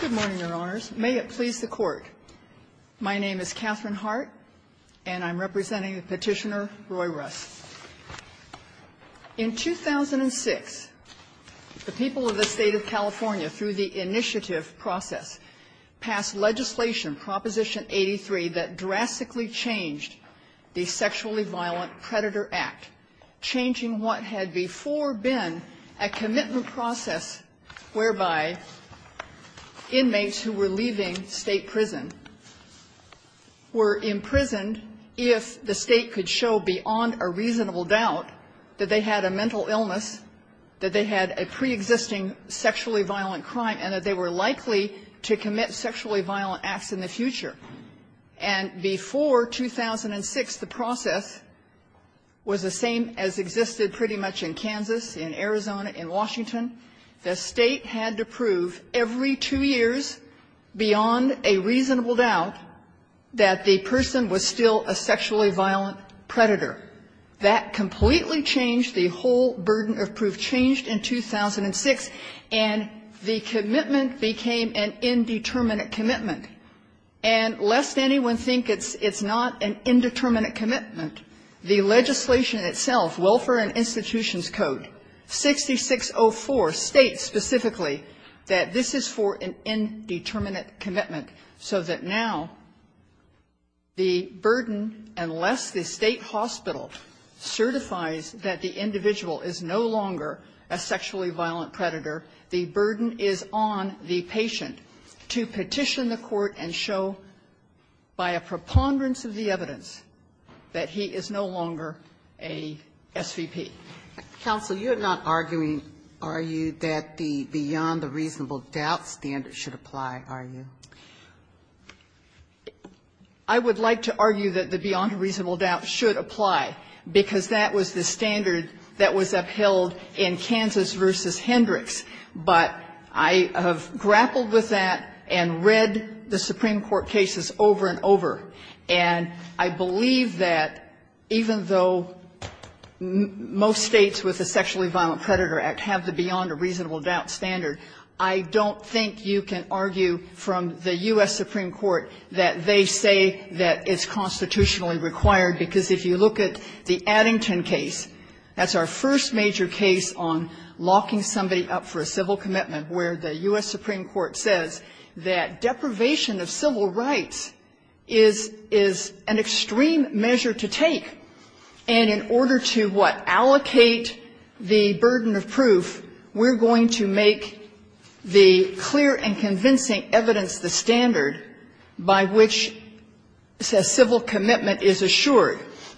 Good morning, Your Honors. May it please the Court, my name is Katherine Hart, and I'm representing Petitioner Roy Russ. In 2006, the people of the state of California, through the initiative process, passed legislation, Proposition 83, that drastically changed the Sexually Violent Predator Act, changing what had before been a commitment process whereby inmates who were leaving state prison were imprisoned if the state could show beyond a reasonable doubt that they had a mental illness, that they had a preexisting sexually violent crime, and that they were likely to commit sexually violent acts in the future. And before 2006, the process was the same as existed pretty much in Kansas, in Arizona, in Washington. The state had to prove every two years, beyond a reasonable doubt, that the person was still a sexually violent predator. That completely changed the whole burden of proof, changed in 2006, and the commitment became an indeterminate commitment. And lest anyone think it's not an indeterminate commitment, the legislation itself, Welfare and Institutions Code 6604, states specifically that this is for an indeterminate commitment, so that now the burden, unless the state hospital certifies that the individual is no longer a sexually violent predator, the burden is on the patient to petition the court and show, by a preponderance of the evidence, that he is no longer a SVP. Ginsburg. Counsel, you're not arguing, are you, that the beyond a reasonable doubt standard should apply, are you? I would like to argue that the beyond a reasonable doubt should apply, because that was the standard that was upheld in Kansas v. Hendricks. But I have grappled with that and read the Supreme Court cases over and over, and I believe that even though most states with the Sexually Violent Predator Act have the beyond a reasonable doubt standard, I don't think you can argue from the U.S. Supreme Court that they say that it's constitutionally required, because if you look at the Addington case, that's our first major case on locking somebody up for a civil commitment, where the U.S. Supreme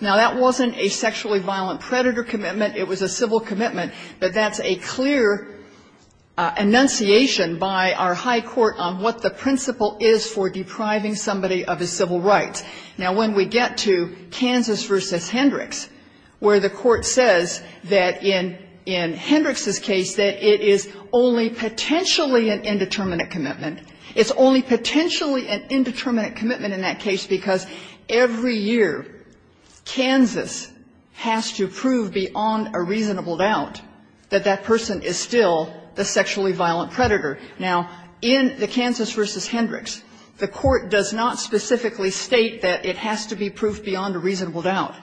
Now, that wasn't a sexually violent predator commitment, it was a civil commitment, but that's a clear enunciation by our high court on what the principle is for depriving somebody of his civil rights. Now, when we get to Kansas v. Hendricks, where the court says that in Hendricks's case that it is only potentially an indeterminate commitment, it's only potentially an indeterminate commitment in that case because every year Kansas has to prove beyond a reasonable doubt that that person is still the sexually violent predator. Now, in the Kansas v. Hendricks, the court does not specifically state that it has to be proved beyond a reasonable doubt.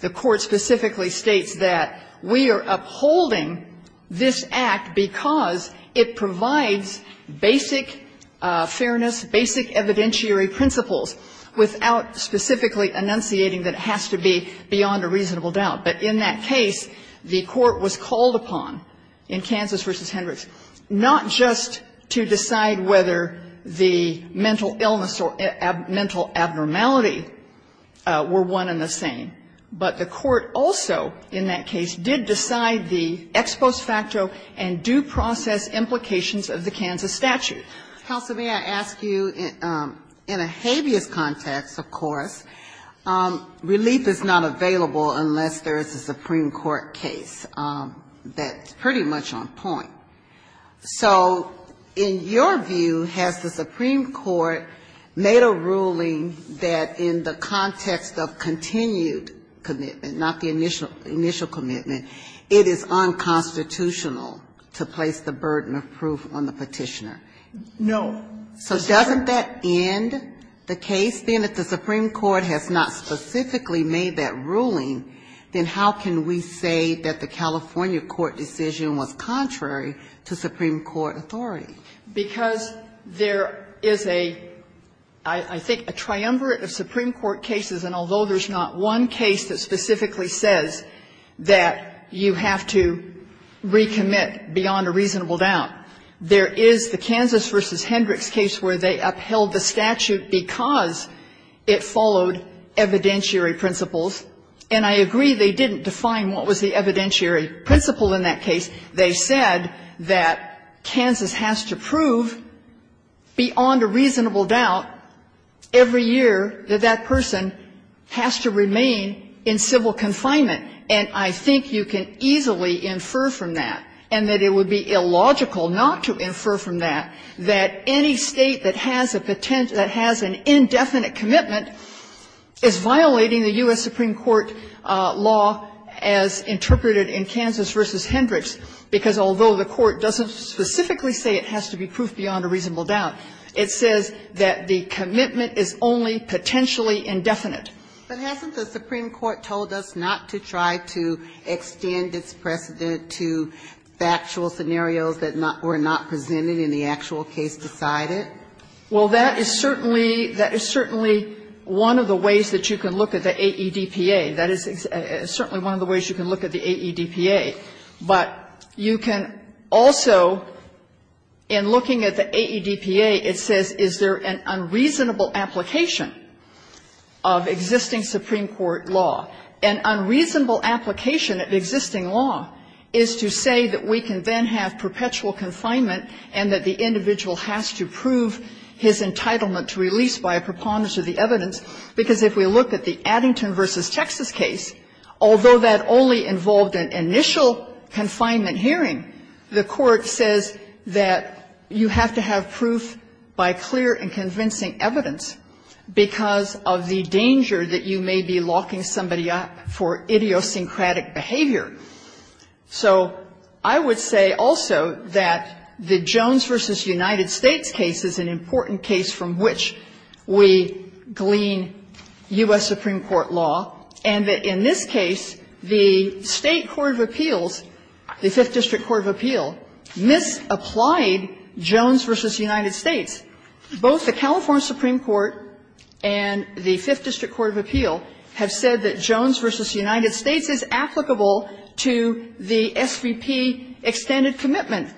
The court specifically states that we are upholding this Act because it provides basic fairness, basic evidentiary principles without specifically enunciating that it has to be beyond a reasonable doubt. But in that case, the court was called upon in Kansas v. Hendricks not just to decide whether the mental illness or mental abnormality were one and the same, but the court also in that case did decide the ex post facto and due process implications of the Kansas statute. Ginsburg. Counsel, may I ask you, in a habeas context, of course, relief is not available unless there is a Supreme Court case that's pretty much on point. So in your view, has the Supreme Court made a ruling that in the context of continued commitment, not the initial commitment, it is unconstitutional to place the burden of proof on the Petitioner? No. So doesn't that end the case? Then if the Supreme Court has not specifically made that ruling, then how can we say that the California court decision was contrary to Supreme Court authority? Because there is a, I think, a triumvirate of Supreme Court cases, and although there's not one case that specifically says that you have to recommit beyond a reasonable doubt, there is the Kansas v. Hendricks case where they upheld the statute because it followed evidentiary principles. And I agree they didn't define what was the evidentiary principle in that case. They said that Kansas has to prove beyond a reasonable doubt every year that that person has to remain in civil confinement. And I think you can easily infer from that, and that it would be illogical not to infer from that, that any State that has a potential, that has an indefinite commitment is violating the U.S. Supreme Court law as interpreted in Kansas v. Hendricks, because although the Court doesn't specifically say it has to be proved beyond a reasonable doubt, it says that the commitment is only potentially indefinite. But hasn't the Supreme Court told us not to try to extend its precedent to factual scenarios that were not presented and the actual case decided? Well, that is certainly one of the ways that you can look at the AEDPA. That is certainly one of the ways you can look at the AEDPA. But you can also, in looking at the AEDPA, it says, is there an unreasonable application of existing Supreme Court law? An unreasonable application of existing law is to say that we can then have perpetual confinement and that the individual has to prove his entitlement to release by a preponderance of the evidence, because if we look at the Addington v. Texas case, although that only involved an initial confinement hearing, the Court says that you have to have a preponderance because of the danger that you may be locking somebody up for idiosyncratic behavior. So I would say also that the Jones v. United States case is an important case from which we glean U.S. Supreme Court law, and that in this case, the State court of appeals, the Fifth District court of appeal, misapplied Jones v. United States. Both the California Supreme Court and the Fifth District court of appeal have said that Jones v. United States is applicable to the SVP extended commitment.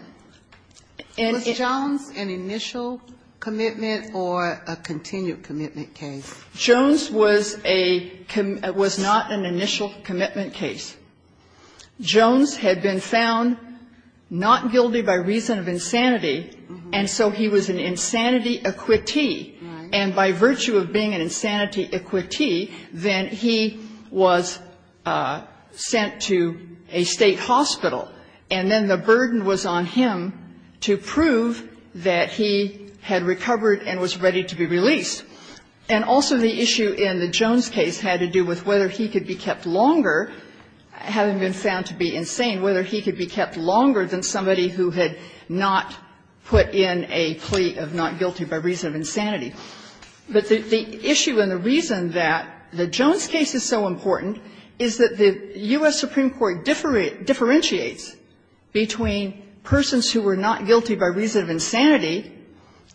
And it was an initial commitment or a continued commitment case? Jones was a com was not an initial commitment case. Jones had been found not guilty by reason of insanity, and so he was an insanity equitee. And by virtue of being an insanity equitee, then he was sent to a State hospital, and then the burden was on him to prove that he had recovered and was ready to be released. And also the issue in the Jones case had to do with whether he could be kept longer having been found to be insane, whether he could be kept longer than somebody who had not put in a plea of not guilty by reason of insanity. But the issue and the reason that the Jones case is so important is that the U.S. Supreme Court differentiates between persons who were not guilty by reason of insanity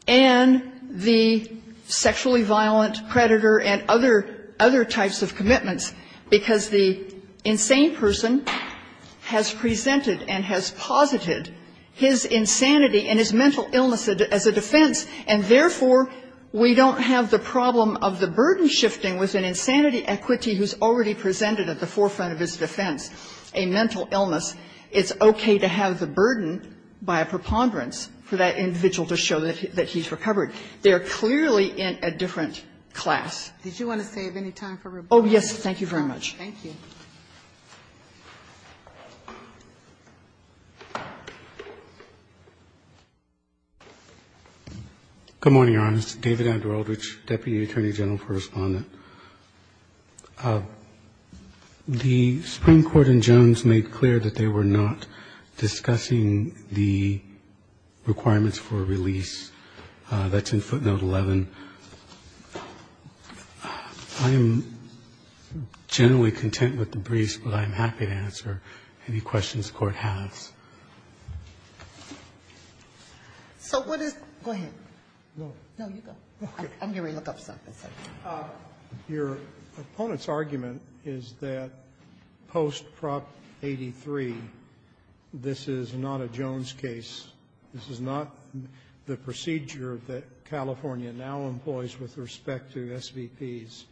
and the sexually violent predator and other types of commitments, because the insane person has presented and has posited his insanity and his mental illness as a defense, and therefore, we don't have the problem of the burden shifting with an insanity equitee who's already presented at the forefront of his defense a mental illness. It's okay to have the burden by a preponderance for that individual to show that he's recovered. They are clearly in a different class. Ginsburg. Did you want to save any time for rebuttal? Oh, yes. Thank you very much. Thank you. Good morning, Your Honor. This is David Abdul-Aldrich, Deputy Attorney General for Respondent. The Supreme Court in Jones made clear that they were not discussing the requirements for a release that's in footnote 11. I am generally content with the briefs, but I'm happy to answer any questions the Court has. So what is the question? Go ahead. No, you go. I'm going to look up something. Your opponent's argument is that post Prop 83, this is not a Jones case. This is not the procedure that California now employs with respect to SVPs,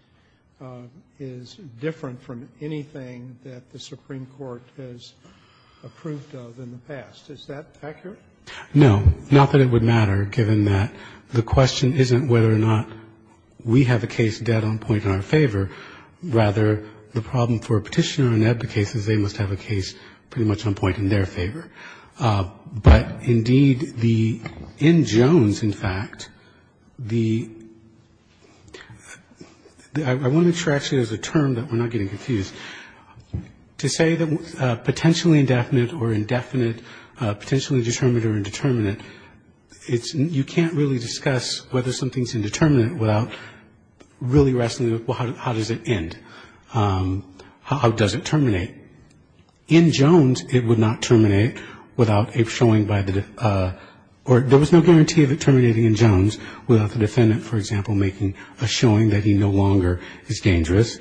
is different from anything that the Supreme Court has approved of in the past. Is that accurate? No. Not that it would matter, given that the question isn't whether or not we have a case dead on point in our favor. Rather, the problem for a Petitioner in EBBA cases, they must have a case pretty much on point in their favor. But, indeed, the end Jones, in fact, the – I want to address it as a term that we're not getting confused. To say that potentially indefinite or indefinite, potentially determinate or indeterminate, it's – you can't really discuss whether something's indeterminate without really wrestling with, well, how does it end? How does it terminate? In Jones, it would not terminate without a showing by the – or there was no guarantee of it terminating in Jones without the defendant, for example, making a showing that he no longer is dangerous.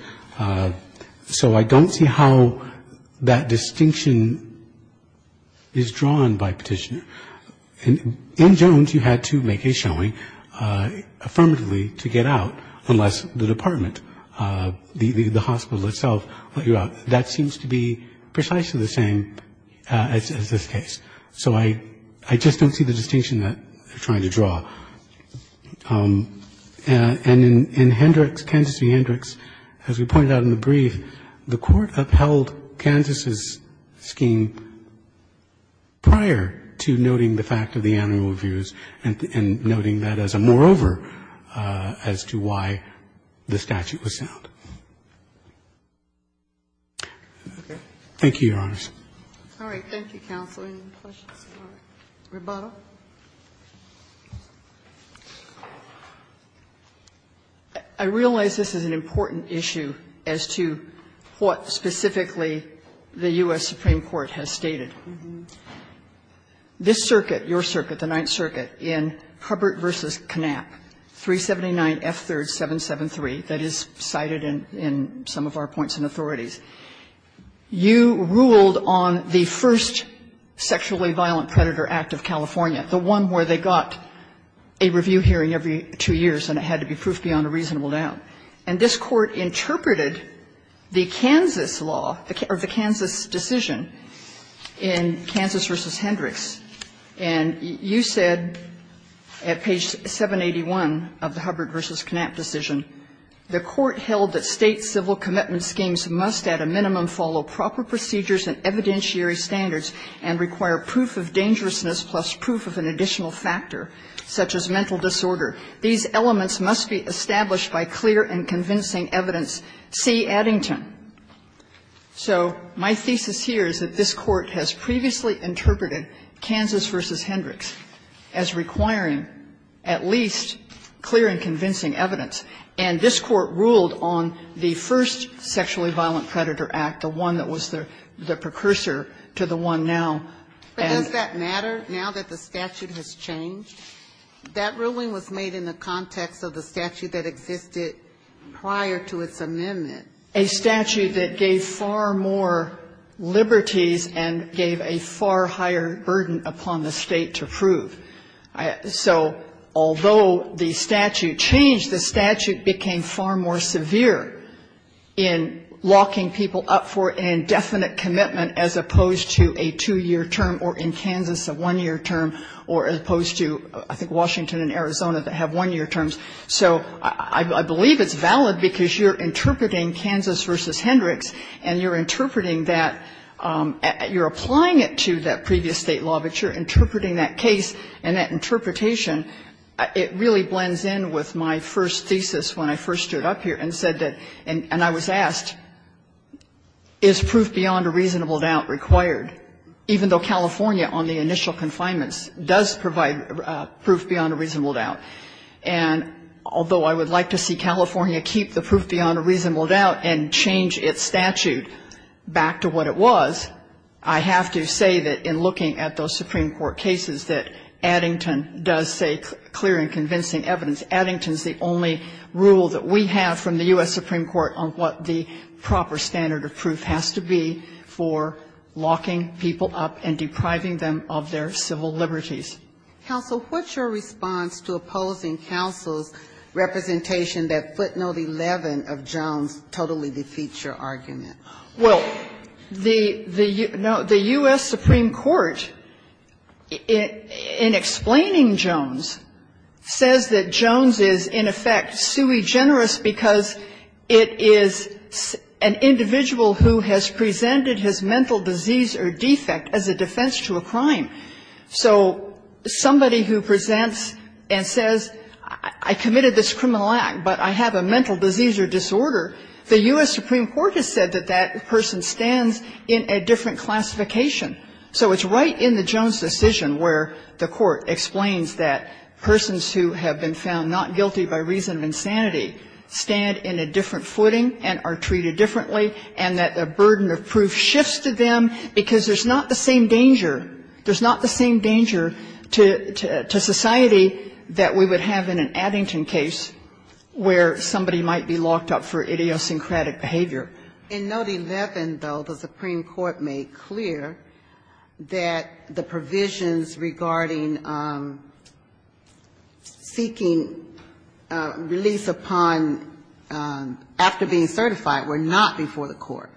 So I don't see how that distinction is drawn by Petitioner. In Jones, you had to make a showing affirmatively to get out unless the department, the hospital itself, let you out. That seems to be precisely the same as this case. So I just don't see the distinction that they're trying to draw. And in Hendricks, Kansas v. Hendricks, as we pointed out in the brief, the Court upheld Kansas' scheme prior to noting the fact of the annual reviews and noting that as a moreover as to why the statute was sent. Thank you, Your Honors. Ginsburg. I realize this is an important issue as to what specifically the U.S. Supreme Court has stated. This circuit, your circuit, the Ninth Circuit, in Hubbert v. Knapp, 379F3rd.773 in some of our points and authorities, you ruled on the first sexually violent predator act of California, the one where they got a review hearing every two years and it had to be proof beyond a reasonable doubt. And this Court interpreted the Kansas law or the Kansas decision in Kansas v. Hendricks. And you said at page 781 of the Hubbert v. Knapp decision, the Court held that State civil commitment schemes must at a minimum follow proper procedures and evidentiary standards and require proof of dangerousness plus proof of an additional factor, such as mental disorder. These elements must be established by clear and convincing evidence. See Addington. So my thesis here is that this Court has previously interpreted Kansas v. Hendricks as requiring at least clear and convincing evidence, and this Court ruled on the first sexually violent predator act, the one that was the precursor to the one now. But does that matter now that the statute has changed? That ruling was made in the context of the statute that existed prior to its amendment. A statute that gave far more liberties and gave a far higher burden upon the State to prove. So although the statute changed, the statute became far more severe in locking people up for an indefinite commitment as opposed to a two-year term or in Kansas a one-year term or as opposed to, I think, Washington and Arizona that have one-year terms. So I believe it's valid because you're interpreting Kansas v. Hendricks and you're interpreting that, you're applying it to that previous State law, but you're interpreting that case and that interpretation, it really blends in with my first thesis when I first stood up here and said that, and I was asked, is proof beyond a reasonable doubt required, even though California on the initial confinements does provide proof beyond a reasonable doubt. And although I would like to see California keep the proof beyond a reasonable doubt and change its statute back to what it was, I have to say that in looking at those Supreme Court cases that Addington does say clear and convincing evidence. Addington is the only rule that we have from the U.S. Supreme Court on what the proper standard of proof has to be for locking people up and depriving them of their civil liberties. Kagan. Counsel, what's your response to opposing counsel's representation that footnote 11 of Jones totally defeats your argument? Well, the U.S. Supreme Court, in explaining Jones, says that Jones is in effect sui generis because it is an individual who has presented his mental disease or defect as a defense to a crime. So somebody who presents and says, I committed this criminal act, but I have a mental disease or disorder, the U.S. Supreme Court has said that that person stands in a different classification. So it's right in the Jones decision where the Court explains that persons who have been found not guilty by reason of insanity stand in a different footing and are treated differently, and that the burden of proof shifts to them because there's not the same danger to society that we would have in an Addington case where somebody might be locked up for idiosyncratic behavior. In note 11, though, the Supreme Court made clear that the provisions regarding seeking release upon after being certified were not before the court.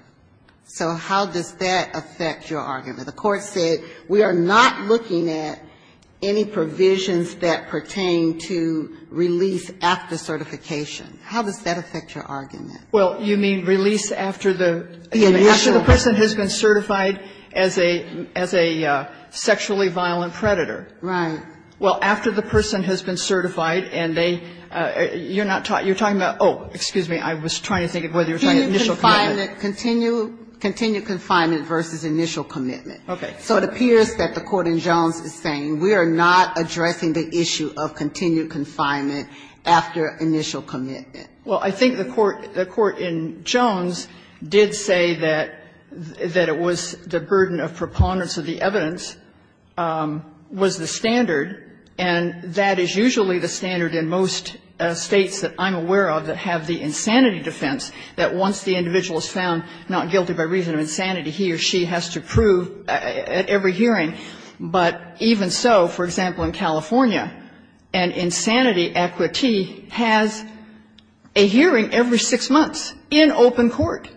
So how does that affect your argument? The court said we are not looking at any provisions that pertain to release after certification. How does that affect your argument? Well, you mean release after the person has been certified as a sexually violent predator? Right. Well, after the person has been certified and they you're not talking, you're talking about, oh, excuse me, I was trying to think of whether you were talking about initial commitment. Continued confinement versus initial commitment. Okay. So it appears that the court in Jones is saying we are not addressing the issue of continued confinement after initial commitment. Well, I think the court in Jones did say that it was the burden of preponderance of the evidence was the standard, and that is usually the standard in most States that I'm aware of that have the insanity defense, that once the individual is found not guilty by reason of insanity, he or she has to prove at every hearing. But even so, for example, in California, an insanity equity has a hearing every six months in open court.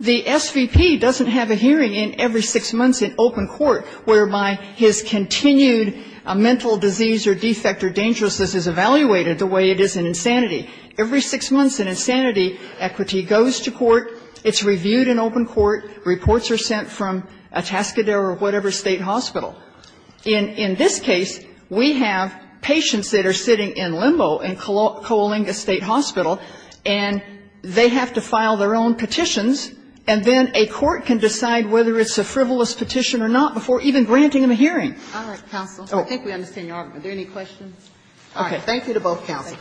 The SVP doesn't have a hearing every six months in open court whereby his continued mental disease or defect or dangerousness is evaluated the way it is in insanity. Every six months, an insanity equity goes to court. It's reviewed in open court. Reports are sent from Atascadero or whatever State hospital. In this case, we have patients that are sitting in limbo in Coalinga State Hospital, and they have to file their own petitions, and then a court can decide whether it's a frivolous petition or not before even granting them a hearing. All right, counsel. I think we understand your argument. Are there any questions? All right. Thank you to both counsels.